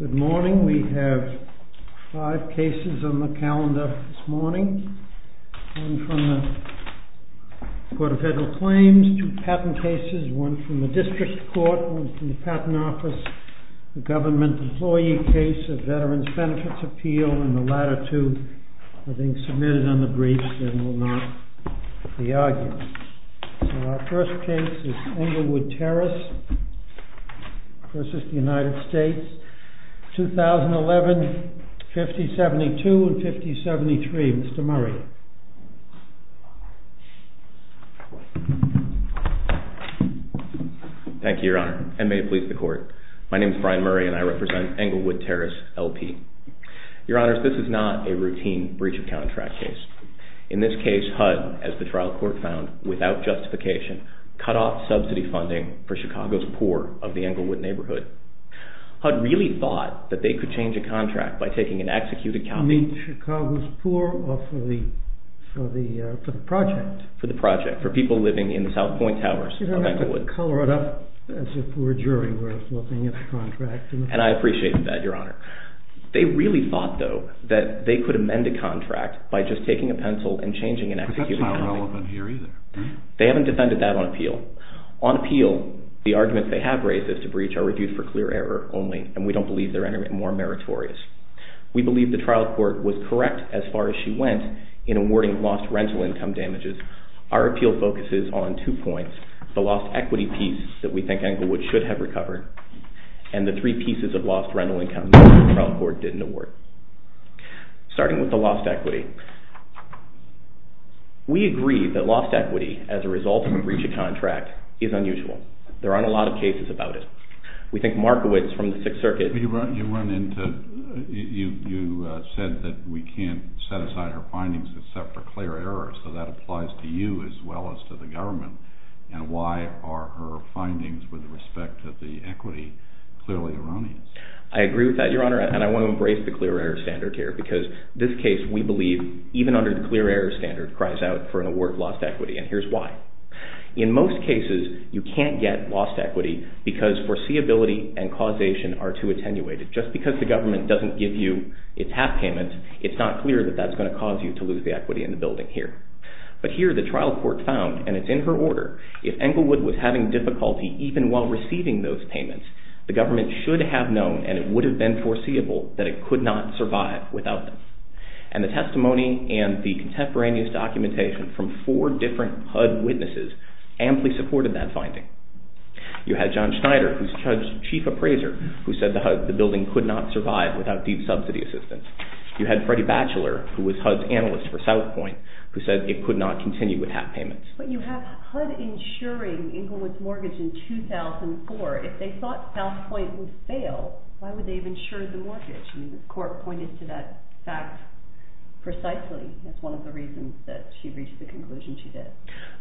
Good morning. We have five cases on the calendar this morning. One from the Court of Federal Claims, two patent cases, one from the District Court, one from the Patent Office, a government employee case, a Veterans Benefits Appeal, and the latter two are being submitted on the argument. So our first case is Englewood Terrace v. United States, 2011, 5072 and 5073. Mr. Murray. Thank you, Your Honor, and may it please the Court. My name is Brian Murray and I represent Englewood Terrace, LP. Your Honors, this is not a routine breach of contract case. In this case, HUD, as the trial court found, without justification, cut off subsidy funding for Chicago's poor of the Englewood neighborhood. HUD really thought that they could change a contract by taking an executed copy... You mean Chicago's poor or for the project? For the project, for people living in the South Point Towers of Englewood. You don't have to color it up as if we're a jury. And I appreciate that, Your Honor. They really thought, though, that they could amend a contract by just taking a pencil and changing an executed copy. But that's not relevant here either. They haven't defended that on appeal. On appeal, the arguments they have raised as to breach are reviewed for clear error only, and we don't believe they're any more meritorious. We believe the trial court was correct as far as she went in awarding lost rental income damages. Our appeal focuses on two points, the lost equity piece that we think Englewood should have recovered, and the three pieces of lost rental income that the trial court didn't award. Starting with the lost equity, we agree that lost equity as a result of a breach of contract is unusual. There aren't a lot of cases about it. We think Markowitz from the Sixth Circuit... You said that we can't set aside our findings except for clear error, so that applies to you as well as to the government. And why are her findings with respect to the equity clearly erroneous? I agree with that, Your Honor, and I want to embrace the clear error standard here, because this case, we believe, even under the clear error standard, cries out for an award of lost equity, and here's why. In most cases, you can't get lost equity because foreseeability and causation are too attenuated. Just because the government doesn't give you its half payment, it's not clear that that's going to cause you to lose the equity in the building here. But here, the trial court found, and it's in her order, if Englewood was having difficulty even while receiving those payments, the government should have known, and it would have been foreseeable, that it could not survive without them. And the testimony and the contemporaneous documentation from four different HUD witnesses amply supported that finding. You had John Schneider, who's HUD's chief appraiser, who said the building could not survive without deep subsidy assistance. You had Freddie Batchelor, who was HUD's analyst for South Point, who said it could not continue without payments. But you have HUD insuring Englewood's mortgage in 2004. If they thought South Point would fail, why would they have insured the mortgage? I mean, the court pointed to that fact precisely. That's one of the reasons that she reached the conclusion she did.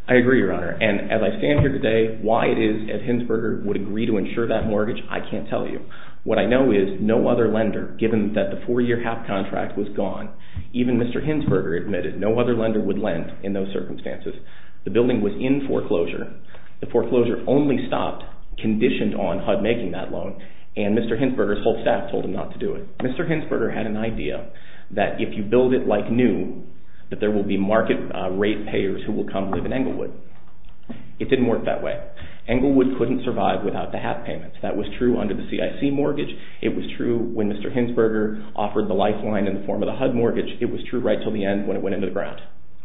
I agree, Your Honor. And as I stand here today, why it is that Hinsberger would agree to insure that mortgage, I can't tell you. What I know is no other lender, given that the four-year half contract was gone, even Mr. Hinsberger admitted no other lender would lend in those circumstances. The building was in foreclosure. The foreclosure only stopped, conditioned on HUD making that loan, and Mr. Hinsberger's whole staff told him not to do it. Mr. Hinsberger had an idea that if you build it like new, that there will be market rate payers who will come live in Englewood. It didn't work that way. Englewood couldn't survive without the half payments. That was true under the CIC mortgage. It was true when Mr. Hinsberger offered the lifeline in the form of the HUD mortgage. It was true right until the end of the contract.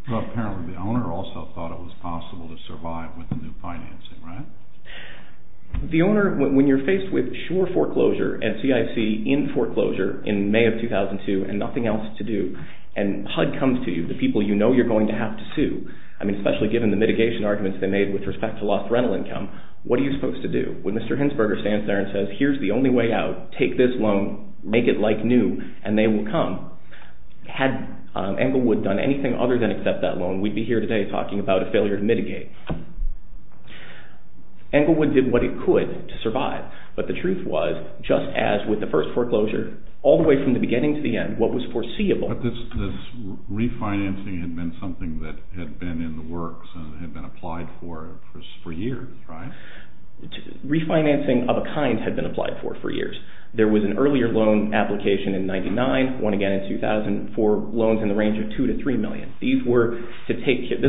Apparently, the owner also thought it was possible to survive with the new financing, right? The owner, when you're faced with sure foreclosure and CIC in foreclosure in May of 2002 and nothing else to do, and HUD comes to you, the people you know you're going to have to sue, I mean especially given the mitigation arguments they made with respect to lost rental income, what are you supposed to do? When Mr. Hinsberger stands there and says, here's the only way out, take this loan, make it like new, and they will come. Had Englewood done anything other than accept that loan, we'd be here today talking about a failure to mitigate. Englewood did what it could to survive, but the truth was, just as with the first foreclosure, all the way from the beginning to the end, what was foreseeable... But this refinancing had been something that had been in the works and had been applied for years, right? Refinancing of a kind had been applied for for years. There was an earlier loan application in 1999, one again in 2004, loans in the range of $2 to $3 million. This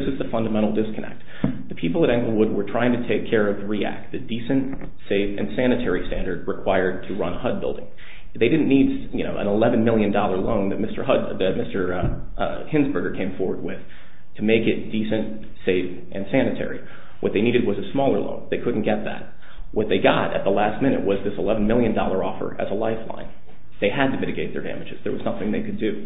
is the fundamental disconnect. The people at Englewood were trying to take care of the REACT, the Decent, Safe and Sanitary standard required to run a HUD building. They didn't need an $11 million loan that Mr. Hinsberger came forward with to make it decent, safe and sanitary. What they needed was a smaller loan. They couldn't get that. What they got at the last minute was this $11 million offer as a lifeline. They had to mitigate their damages. There was nothing they could do.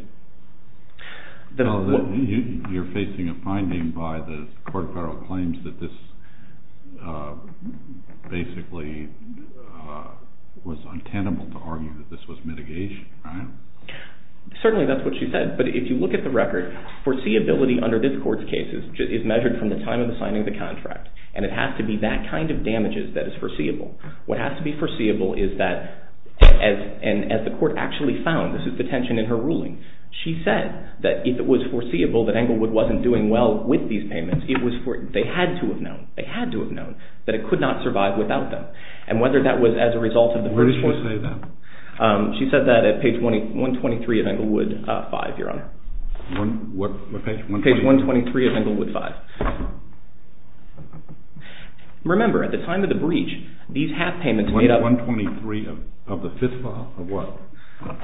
You're facing a finding by the court of federal claims that this basically was untenable to argue that this was mitigation, right? Certainly that's what she said, but if you look at the record, foreseeability under this court's case is measured from the time of the signing of the contract, and it has to be that kind of damages that is foreseeable. What has to be foreseeable is that as the court actually found, this is the tension in her ruling, she said that if it was foreseeable that Englewood wasn't doing well with these payments, they had to have known. They had to have known that it could not survive without them. Where did she say that? She said that at page 123 of Englewood 5, Your Honor. What page? Page 123 of Englewood 5. Remember, at the time of the breach, these half payments made up... 123 of the 5th file? Of what?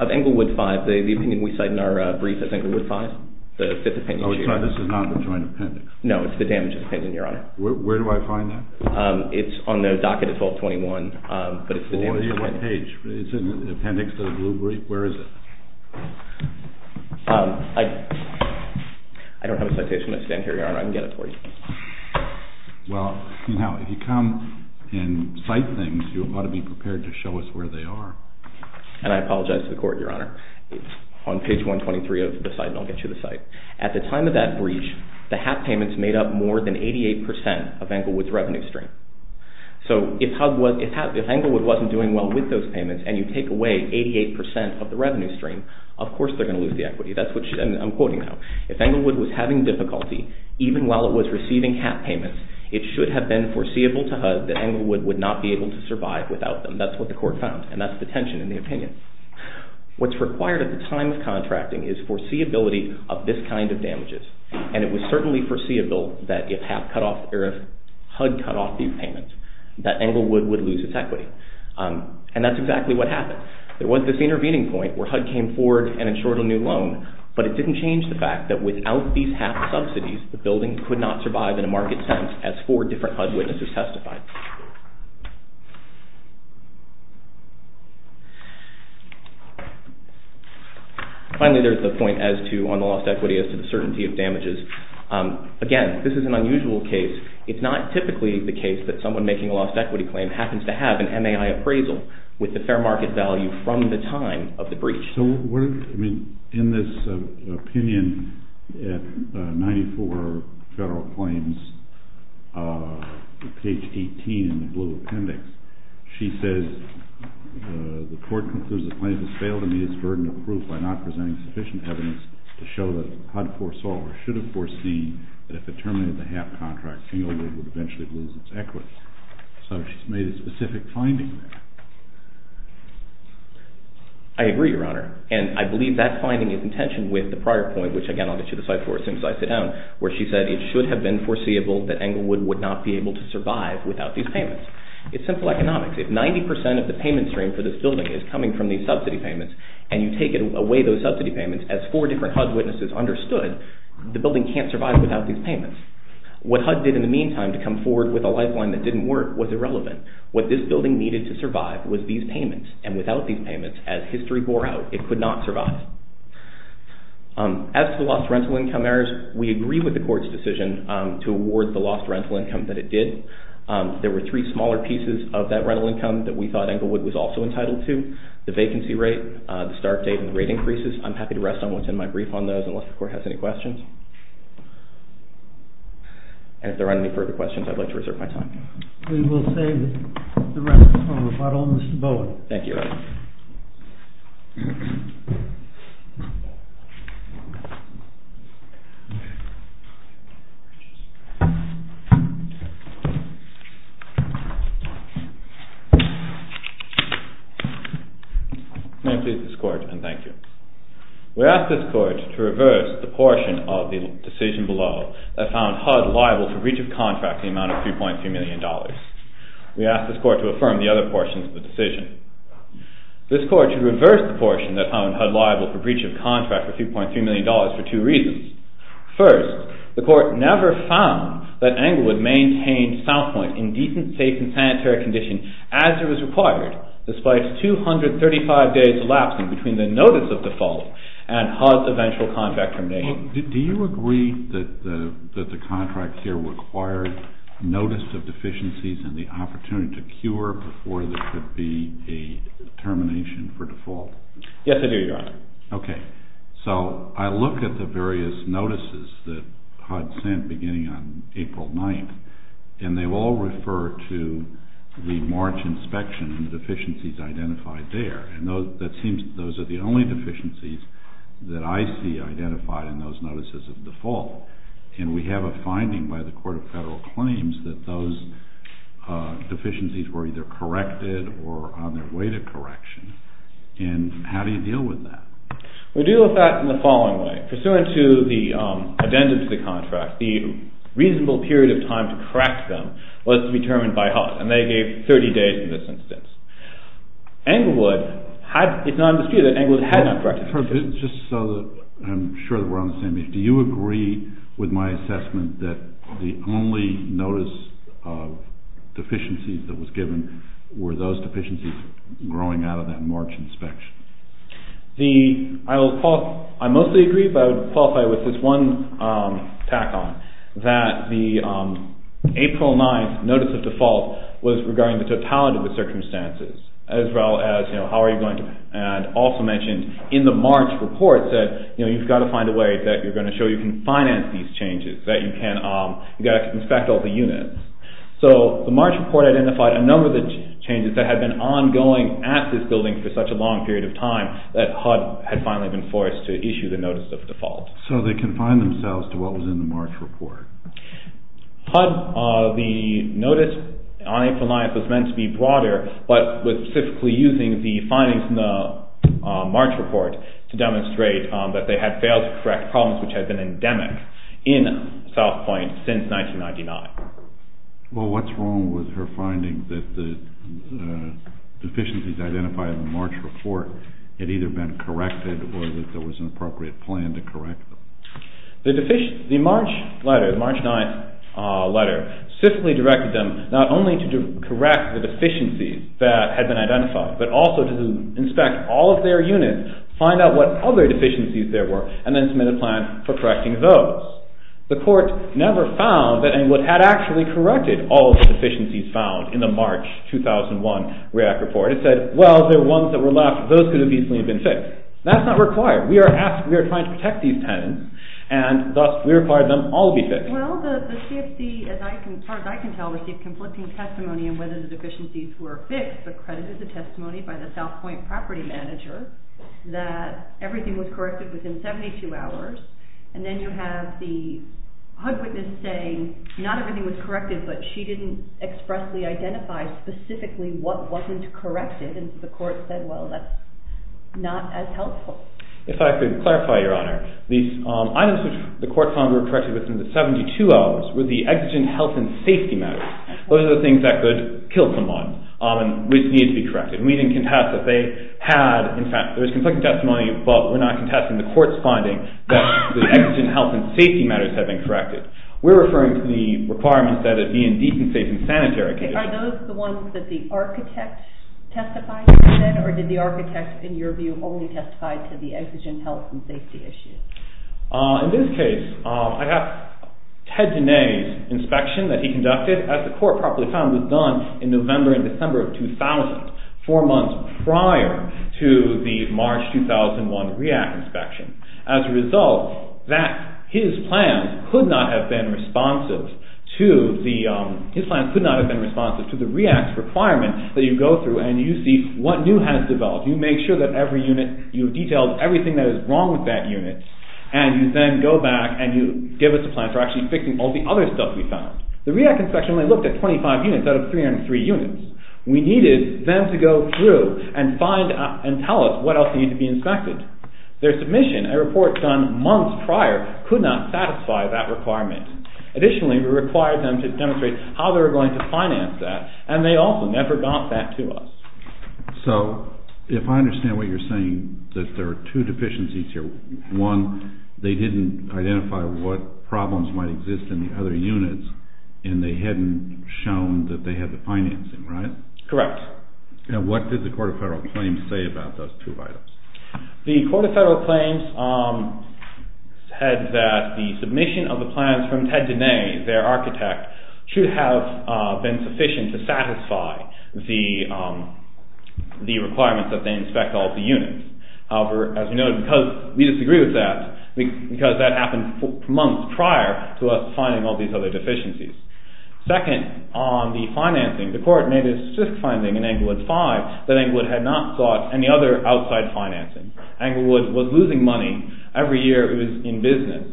Of Englewood 5, the opinion we cite in our brief is Englewood 5, the 5th opinion. Oh, so this is not the joint appendix? No, it's the damages opinion, Your Honor. Where do I find that? It's on the DACA default 21, but it's the damages opinion. On what page? Is it in the appendix to the blue brief? Where is it? I don't have a citation, but I stand here, Your Honor. I can get it for you. Well, you know, if you come and cite things, you ought to be prepared to show us where they are. And I apologize to the Court, Your Honor. It's on page 123 of the site, and I'll get you the site. At the time of that breach, the half payments made up more than 88% of Englewood's revenue stream. So if Englewood wasn't doing well with those payments and you take away 88% of the revenue stream, of course they're going to lose the equity. I'm quoting now. If Englewood was having difficulty, even while it was receiving half payments, it should have been foreseeable to HUD that Englewood would not be able to survive without them. That's what the Court found, and that's the tension in the opinion. What's required at the time of contracting is foreseeability of this kind of damages. And it was certainly foreseeable that if HUD cut off these payments, that Englewood would lose its equity. And that's exactly what happened. There was this intervening point where HUD came forward and insured a new loan, but it didn't change the fact that without these half subsidies, the building could not survive in a market sense, as four different HUD witnesses testified. Finally, there's the point as to, on the lost equity, as to the certainty of damages. Again, this is an unusual case. It's not typically the case that someone making a lost equity claim happens to have an MAI appraisal with the fair market value from the time of the breach. So, in this opinion at 94 Federal Claims, page 18 in the blue appendix, she says, The Court concludes that the plaintiff has failed to meet its burden of proof by not presenting sufficient evidence to show that HUD foresaw or should have foreseen that if it terminated the HAP contract, Englewood would eventually lose its equity. So, she's made a specific finding there. I agree, Your Honor. And I believe that finding is in tension with the prior point, which again, I'll get you the slide for it as soon as I sit down, where she said it should have been foreseeable that Englewood would not be able to survive without these payments. It's simple economics. If 90% of the payment stream for this building is coming from these subsidy payments, and you take away those subsidy payments, as four different HUD witnesses understood, the building can't survive without these payments. What HUD did in the meantime to come forward with a lifeline that didn't work was irrelevant. What this building needed to survive was these payments, and without these payments, as history bore out, it could not survive. As to the lost rental income errors, we agree with the Court's decision to award the lost rental income that it did. There were three smaller pieces of that rental income that we thought Englewood was also entitled to, the vacancy rate, the start date, and the rate increases. I'm happy to rest on what's in my brief on those, unless the Court has any questions. And if there aren't any further questions, I'd like to reserve my time. We will save the rest for Mr. Bowen. May it please this Court, and thank you. We ask this Court to reverse the portion of the decision below that found HUD liable for breach of contract in the amount of $3.2 million. We ask this Court to affirm the other portions of the decision. This Court should reverse the portion that found HUD liable for breach of contract for $3.3 million for two reasons. First, the Court never found that Englewood maintained South Point in decent, safe, and sanitary condition as it was required, despite 235 days elapsing between the notice of default and HUD's eventual contract termination. Do you agree that the contract here required notice of deficiencies and the opportunity to cure before there could be a termination for default? Yes, I do, Your Honor. Okay. So I looked at the various notices that HUD sent beginning on April 9th, and they all refer to the March inspection and the deficiencies identified there. And that seems those are the only deficiencies that I see identified in those notices of default. And we have a finding by the Court of Federal Claims that those deficiencies were either corrected or on their way to correction. And how do you deal with that? We deal with that in the following way. Pursuant to the addendum to the contract, the reasonable period of time to correct them was to be determined by HUD, and they gave 30 days in this instance. Englewood had, it's not disputed that Englewood had not corrected them. Your Honor, just so that I'm sure that we're on the same page, do you agree with my assessment that the only notice of deficiencies that was given were those deficiencies growing out of that March inspection? I mostly agree, but I would qualify with this one tack on, that the April 9th notice of default was regarding the totality of the circumstances, as well as how are you going also mentioned in the March report that you've got to find a way that you're going to show you can finance these changes, that you can inspect all the units. So the March report identified a number of the changes that had been ongoing at this building for such a long period of time that HUD had finally been forced to issue the notice of default. So they confined themselves to what was in the March report? HUD, the notice on April 9th was meant to be broader, but specifically using the findings in the March report to demonstrate that they had failed to correct problems which had been endemic in South Point since 1999. Well, what's wrong with her finding that the deficiencies identified in the March report had either been corrected or that there was an appropriate plan to correct them? The March letter, the March 9th letter, specifically directed them not only to correct the deficiencies that had been identified, but also to inspect all of their units, find out what other deficiencies there were, and then submit a plan for correcting those. The court never found that it had actually corrected all the deficiencies found in the March 2001 REAC report. It said, well, there were ones that were left, those could have easily been fixed. That's not required. We are trying to protect these tenants, and thus we require them all to be fixed. Well, the CFC, as far as I can tell, received conflicting testimony on whether the deficiencies were fixed, but credited the testimony by the South Point property manager that everything was corrected within 72 hours, and then you have the HUD witness saying not everything was corrected, but she didn't expressly identify specifically what wasn't corrected, and the court said, well, that's not as helpful. If I could clarify, Your Honor, the items which the court found were corrected within the 72 hours were the exigent health and safety matters. Those are the things that could kill someone, which need to be corrected. We didn't contest that they had, in fact, there was conflicting testimony, but we're not contesting the court's finding that the exigent health and safety matters have been corrected. We're referring to the requirements that a decent, safe, and sanitary condition… Are those the ones that the architect testified to, then, or did the architect, in your view, only testify to the exigent health and safety issues? In this case, I have Ted Diné's inspection that he conducted, as the court probably found was done in November and December of 2000, four months prior to the March 2001 REAC inspection. As a result, his plans could not have been responsive to the REAC's requirement that you go through and you see what new has developed, you make sure that every unit, you've detailed everything that is wrong with that unit, and you then go back and you give us a plan for actually fixing all the other stuff we found. The REAC inspection only looked at 25 units out of 303 units. We needed them to go through and find and tell us what else needed to be inspected. Their submission, a report done months prior, could not satisfy that requirement. Additionally, we required them to demonstrate how they were going to So, if I understand what you're saying, that there are two deficiencies here. One, they didn't identify what problems might exist in the other units and they hadn't shown that they had the financing, right? Correct. And what did the Court of Federal Claims say about those two items? The Court of Federal Claims said that the submission of the plans from Ted Diné, their requirements that they inspect all the units. However, as you know, because we disagree with that, because that happened months prior to us finding all these other deficiencies. Second, on the financing, the Court made a statistic finding in Englewood V that Englewood had not sought any other outside financing. Englewood was losing money every year it was in business,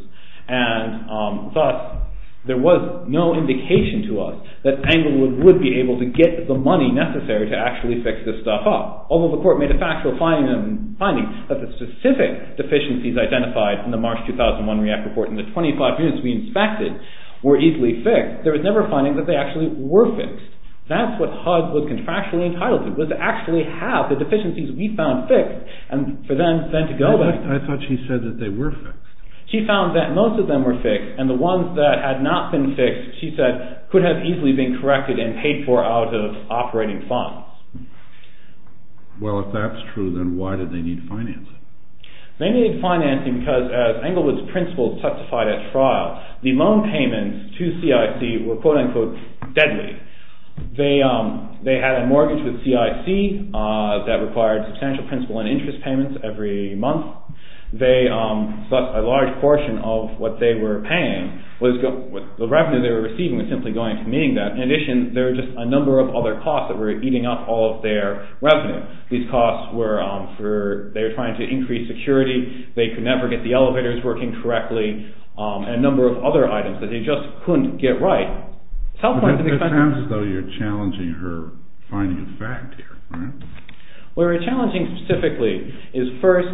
and thus there was no indication to us that Englewood would be able to get the money necessary to actually fix this stuff up. Although the Court made a factual finding that the specific deficiencies identified in the March 2001 REACT report in the 25 units we inspected were easily fixed, there was never a finding that they actually were fixed. That's what HUD was contractually entitled to, was to actually have the deficiencies we found fixed, and for them then to go back. I thought she said that they were fixed. She found that most of them were fixed, and the ones that had not been fixed, she said, could have easily been corrected and paid for out of operating funds. Well, if that's true, then why did they need financing? They needed financing because, as Englewood's principal testified at trial, the loan payments to CIC were quote-unquote deadly. They had a mortgage with CIC that required substantial principal and interest payments every month. A large portion of what they were paying, the revenue they were receiving was simply going into meeting that. In addition, there were just a number of other costs that were eating up all of their revenue. These costs were for, they were trying to increase security, they could never get the elevators working correctly, and a number of other items that they just couldn't get right. It sounds as though you're challenging her finding of fact here, right? What we're challenging specifically is first,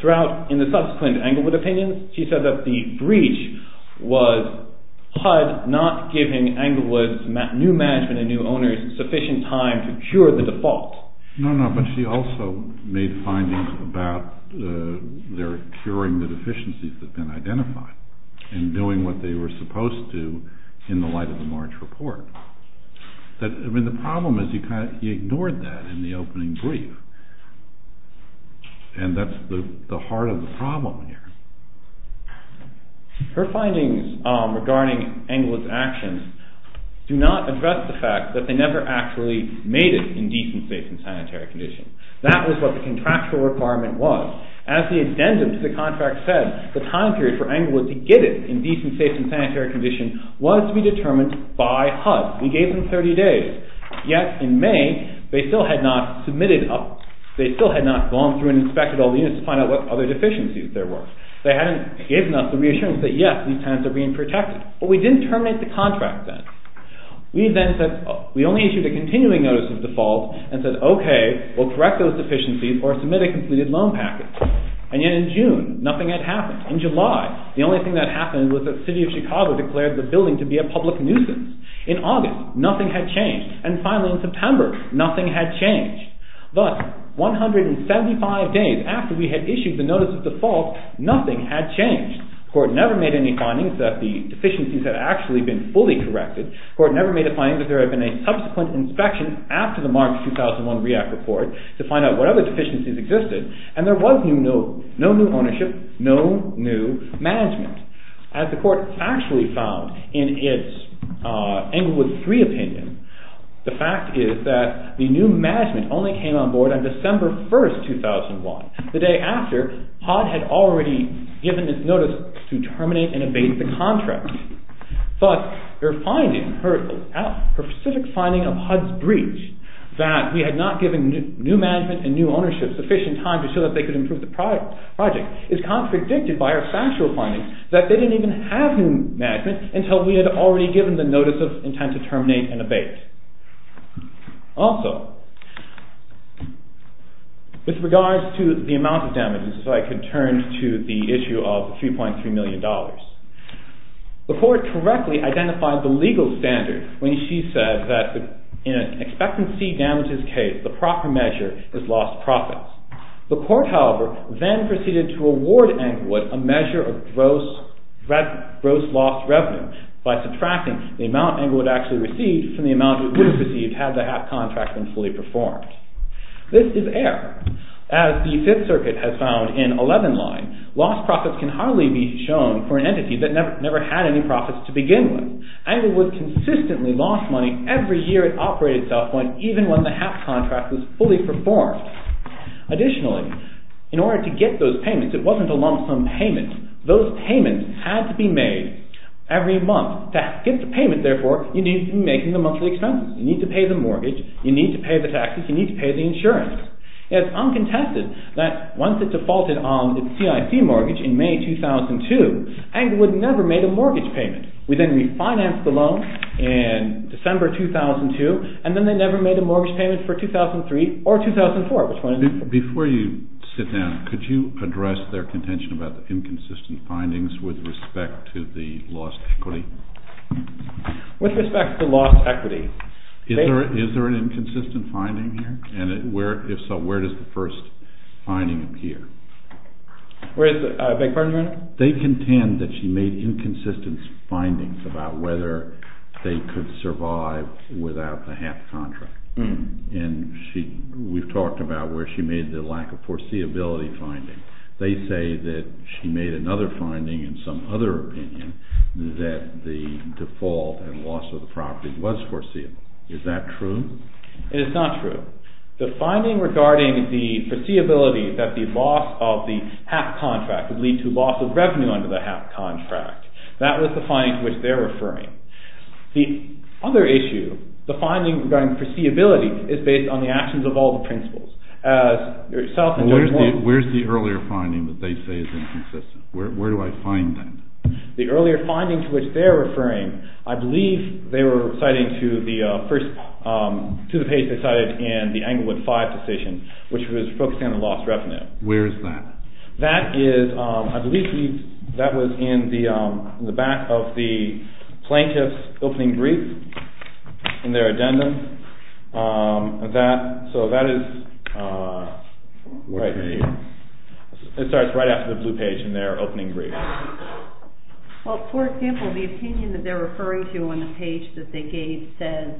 throughout, in the subsequent Englewood opinions, she said that the breach was HUD not giving Englewood's new management and new owners sufficient time to cure the default. No, no, but she also made findings about their curing the deficiencies that had been identified and doing what they were supposed to in the light of the March report. The problem is you kind of ignored that in the opening brief, and that's the heart of the problem here. Her findings regarding Englewood's actions do not address the fact that they never actually made it in decent, safe, and sanitary conditions. That was what the contractual requirement was. As the addendum to the contract said, the time period for Englewood to get it in decent, safe, and sanitary condition was to be determined by HUD. We gave them 30 days, yet in May, they still had not gone through and inspected all the units to find out what other deficiencies there were. They hadn't given us the reassurance that yes, these tenants are being protected. But we didn't terminate the contract then. We only issued a continuing notice of default and said, okay, we'll correct those deficiencies or submit a completed loan package. And yet in June, nothing had happened. In July, the only thing that happened was that the city of Chicago declared the building to be a public nuisance. In August, nothing had changed. And finally in September, nothing had changed. Thus, 175 days after we had issued the notice of default, nothing had changed. The court never made any findings that the deficiencies had actually been fully corrected. The court never made a finding that there had been a subsequent inspection after the March 2001 REACT report to find out what other deficiencies existed. And there was no new ownership, no new management. As the court actually found in its Englewood III opinion, the fact is that the new management only came on board on December 1, 2001, the day after HUD had already given its notice to terminate and abate the contract. Thus, their finding, her specific finding of HUD's breach, that we had not given new management and new ownership sufficient time to show that they could improve the project, is contradicted by our factual findings that they didn't even have new management until we had already given the notice of intent to terminate and abate. Also, with regards to the amount of damages, if I could turn to the issue of $3.3 million. The court correctly identified the legal standard when she said that in an expectancy damages case, the proper measure is lost profits. The court, however, then proceeded to award Englewood a measure of gross lost revenue by subtracting the amount Englewood actually received from the amount it would have received had the HAP contract been fully performed. This is error. As the Fifth Circuit has found in 11-line, lost profits can hardly be shown for an entity that never had any profits to begin with. Englewood consistently lost money every year it operated itself, even when the HAP contract was fully performed. Additionally, in order to get those payments, it wasn't a lump sum payment. Those payments had to be made every month. To get the payment, therefore, you need to be making the monthly expenses. You need to pay the mortgage, you need to pay the taxes, you need to pay the insurance. It's uncontested that once it defaulted on its CIC mortgage in May 2002, Englewood never made a mortgage payment. We then refinanced the loan in December 2002, and then they never made a mortgage payment for 2003 or 2004. Before you sit down, could you address their contention about the inconsistent findings with respect to the lost equity? With respect to lost equity? Is there an inconsistent finding here? And if so, where does the first finding appear? They contend that she made inconsistent findings about whether they could survive without the HAP contract. And we've talked about where she made the lack of foreseeability finding. They say that she made another finding in some other opinion that the default and loss of the property was foreseeable. Is that true? It is not true. The finding regarding the foreseeability that the loss of the HAP contract would lead to loss of revenue under the HAP contract, that was the finding to which they're referring. The other issue, the finding regarding foreseeability, is based on the actions of all the principals. Where's the earlier finding that they say is inconsistent? Where do I find that? The earlier finding to which they're referring, I believe they were citing to the page they cited in the Englewood 5 decision, which was focusing on the lost revenue. Where is that? That is, I believe that was in the back of the plaintiff's opening brief, in their addendum. It starts right after the blue page in their opening brief. Well, for example, the opinion that they're referring to on the page that they gave says,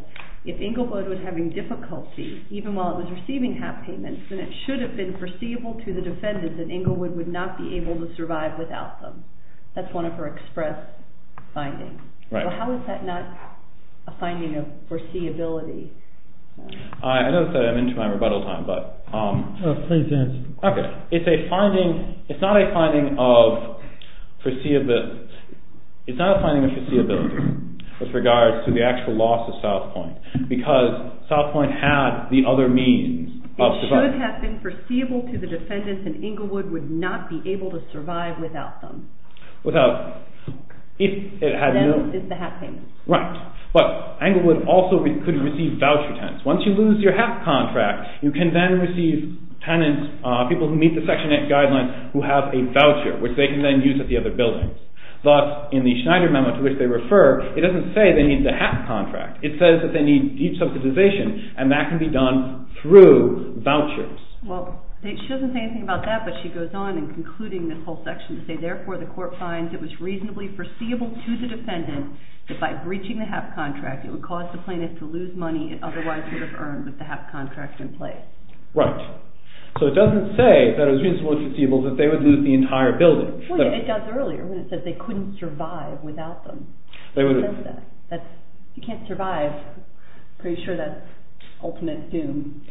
if Englewood was having difficulty, even while it was receiving HAP payments, then it should have been foreseeable to the defendants that Englewood would not be able to survive without them. That's one of her express findings. How is that not a finding of foreseeability? I know that I'm into my rebuttal time, but... Please answer. Okay. It's not a finding of foreseeability with regards to the actual loss of South Point, because South Point had the other means. It should have been foreseeable to the defendants that Englewood would not be able to survive without them. Without them. Then it's the HAP payments. Right. But Englewood also could receive voucher tenants. Once you lose your HAP contract, you can then receive tenants, people who meet the Section 8 guidelines, who have a voucher, which they can then use at the other buildings. Thus, in the Schneider memo to which they refer, it doesn't say they need the HAP contract. It says that they need deep subsidization, and that can be done through vouchers. Well, she doesn't say anything about that, but she goes on in concluding this whole section to say, therefore, the court finds it was reasonably foreseeable to the defendant that by breaching the HAP contract, it would cause the plaintiff to lose money it otherwise would have earned with the HAP contract in place. Right. So it doesn't say that it was reasonably foreseeable that they would lose the entire building. Well, it does earlier when it says they couldn't survive without them. It says that. If you can't survive, I'm pretty sure that's ultimate doom.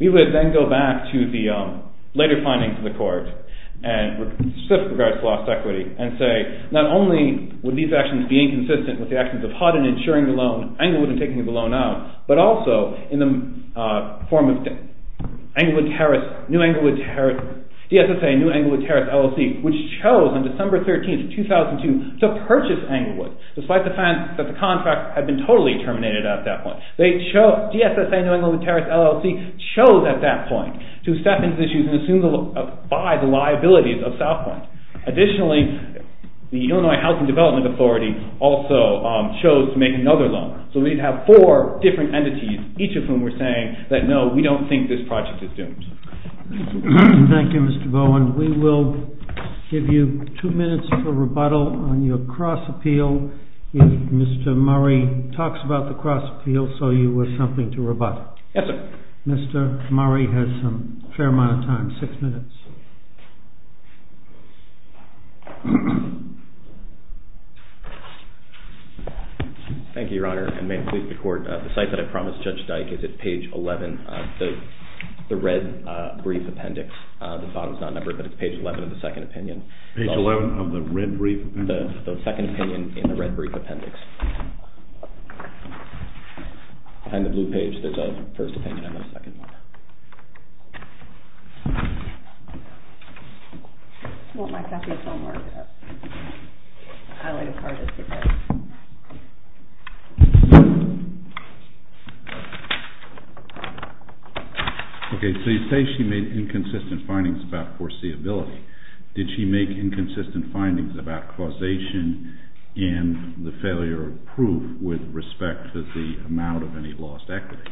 We would then go back to the later findings of the court, and specific regards to lost equity, with the actions of Hodden insuring the loan, Englewood in taking the loan out, but also in the form of DSSA New Englewood Terrace LLC, which chose on December 13, 2002, to purchase Englewood, despite the fact that the contract had been totally terminated at that point. DSSA New Englewood Terrace LLC chose at that point to step into these issues and buy the liabilities of South Point. Additionally, the Illinois Housing Development Authority also chose to make another loan. So we'd have four different entities, each of whom were saying that no, we don't think this project is doomed. Thank you, Mr. Bowen. We will give you two minutes for rebuttal on your cross-appeal if Mr. Murray talks about the cross-appeal so you have something to rebut. Yes, sir. Mr. Murray has a fair amount of time, six minutes. Thank you, Your Honor, and may it please the Court, the site that I promised Judge Dyke is at page 11, the red brief appendix, the bottom is not numbered, but it's page 11 of the second opinion. Page 11 of the red brief appendix? The second opinion in the red brief appendix. Behind the blue page, there's a first opinion and a second one. Okay, so you say she made inconsistent findings about foreseeability. Did she make inconsistent findings about causation and the failure of proof with respect to the amount of any lost equity?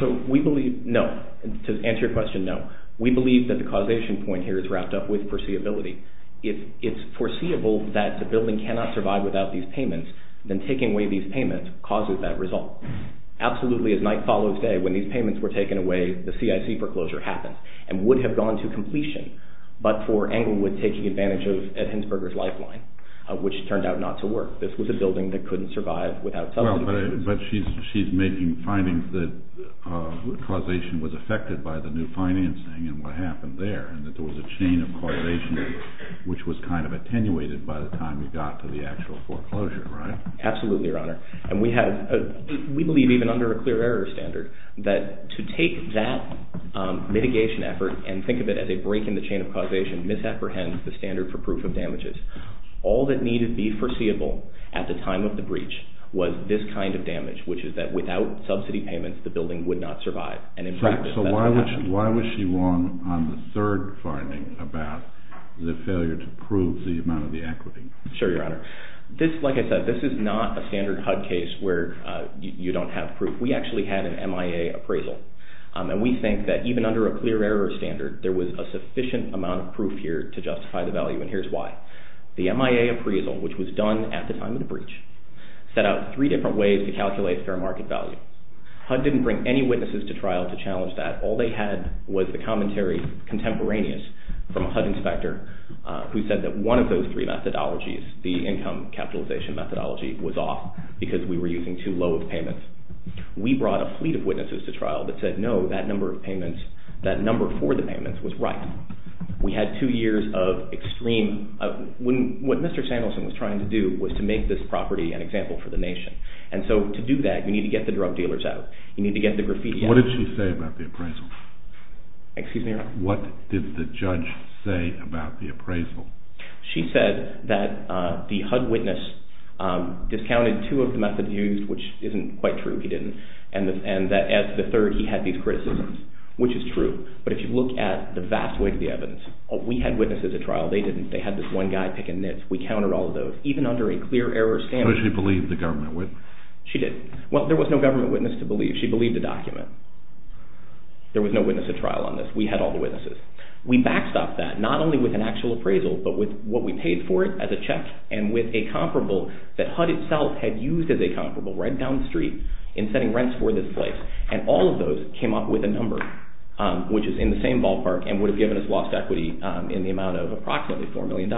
So we believe, no, to answer your question, no. We believe that the causation point here is wrapped up with foreseeability. If it's foreseeable that the building cannot survive without these payments, then taking away these payments causes that result. Absolutely, as night follows day, when these payments were taken away, the CIC foreclosure happened and would have gone to completion, but for Englewood taking advantage of Ed Hinsberger's lifeline, which turned out not to work. This was a building that couldn't survive without some of the payments. Well, but she's making findings that causation was affected by the new financing and what happened there, and that there was a chain of causation which was kind of attenuated by the time you got to the actual foreclosure, right? Absolutely, Your Honor. And we believe, even under a clear error standard, that to take that mitigation effort and think of it as a break in the chain of causation misapprehends the standard for proof of damages. All that needed to be foreseeable at the time of the breach was this kind of damage, which is that without subsidy payments, the building would not survive. So why was she wrong on the third finding about the failure to prove the amount of the equity? Sure, Your Honor. Like I said, this is not a standard HUD case where you don't have proof. We actually had an MIA appraisal, and we think that even under a clear error standard, there was a sufficient amount of proof here to justify the value, and here's why. The MIA appraisal, which was done at the time of the breach, set out three different ways to calculate fair market value. HUD didn't bring any witnesses to trial to challenge that. All they had was the commentary contemporaneous from a HUD inspector who said that one of those three methodologies, the income capitalization methodology, was off because we were using too low of payments. We brought a fleet of witnesses to trial that said, no, that number for the payments was right. We had two years of extreme. What Mr. Sandelson was trying to do was to make this property an example for the nation. And so to do that, you need to get the drug dealers out. You need to get the graffiti out. What did she say about the appraisal? Excuse me, Your Honor. What did the judge say about the appraisal? She said that the HUD witness discounted two of the methods used, which isn't quite true. He didn't. And that as the third, he had these criticisms, which is true. But if you look at the vast weight of the evidence, we had witnesses at trial. They didn't. They had this one guy picking nits. We countered all of those, even under a clear error standard. So she believed the government witness? She did. Well, there was no government witness to believe. She believed the document. There was no witness at trial on this. We had all the witnesses. We backstopped that, not only with an actual appraisal, but with what we paid for it as a check and with a comparable that HUD itself had used as a comparable right down the street in setting rents for this place. And all of those came up with a number, which is in the same ballpark and would have given us lost equity in the amount of approximately $4 million.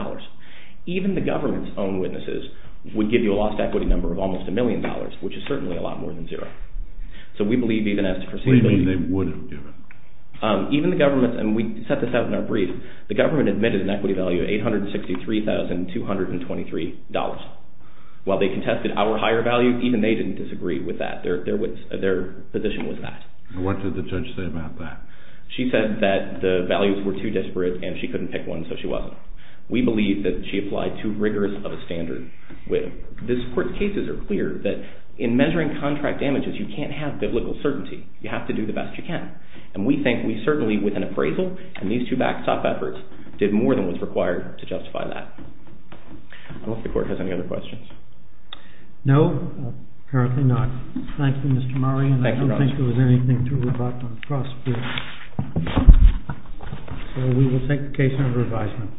Even the government's own witnesses would give you a lost equity number of almost a million dollars, which is certainly a lot more than zero. So we believe even as to proceed. What do you mean they would have given? Even the government's, and we set this out in our brief, the government admitted an equity value of $863,223. While they contested our higher value, even they didn't disagree with that. Their position was that. What did the judge say about that? She said that the values were too disparate and she couldn't pick one, so she wasn't. We believe that she applied too rigorous of a standard. This court's cases are clear that in measuring contract damages, you can't have biblical certainty. You have to do the best you can. And we think we certainly, with an appraisal and these two backstop efforts, did more than was required to justify that. I don't know if the court has any other questions. No, apparently not. Thank you, Mr. Murray. Thank you, Roger. I don't think there was anything to rebut on the cross, so we will take the case under advisement. Thank you.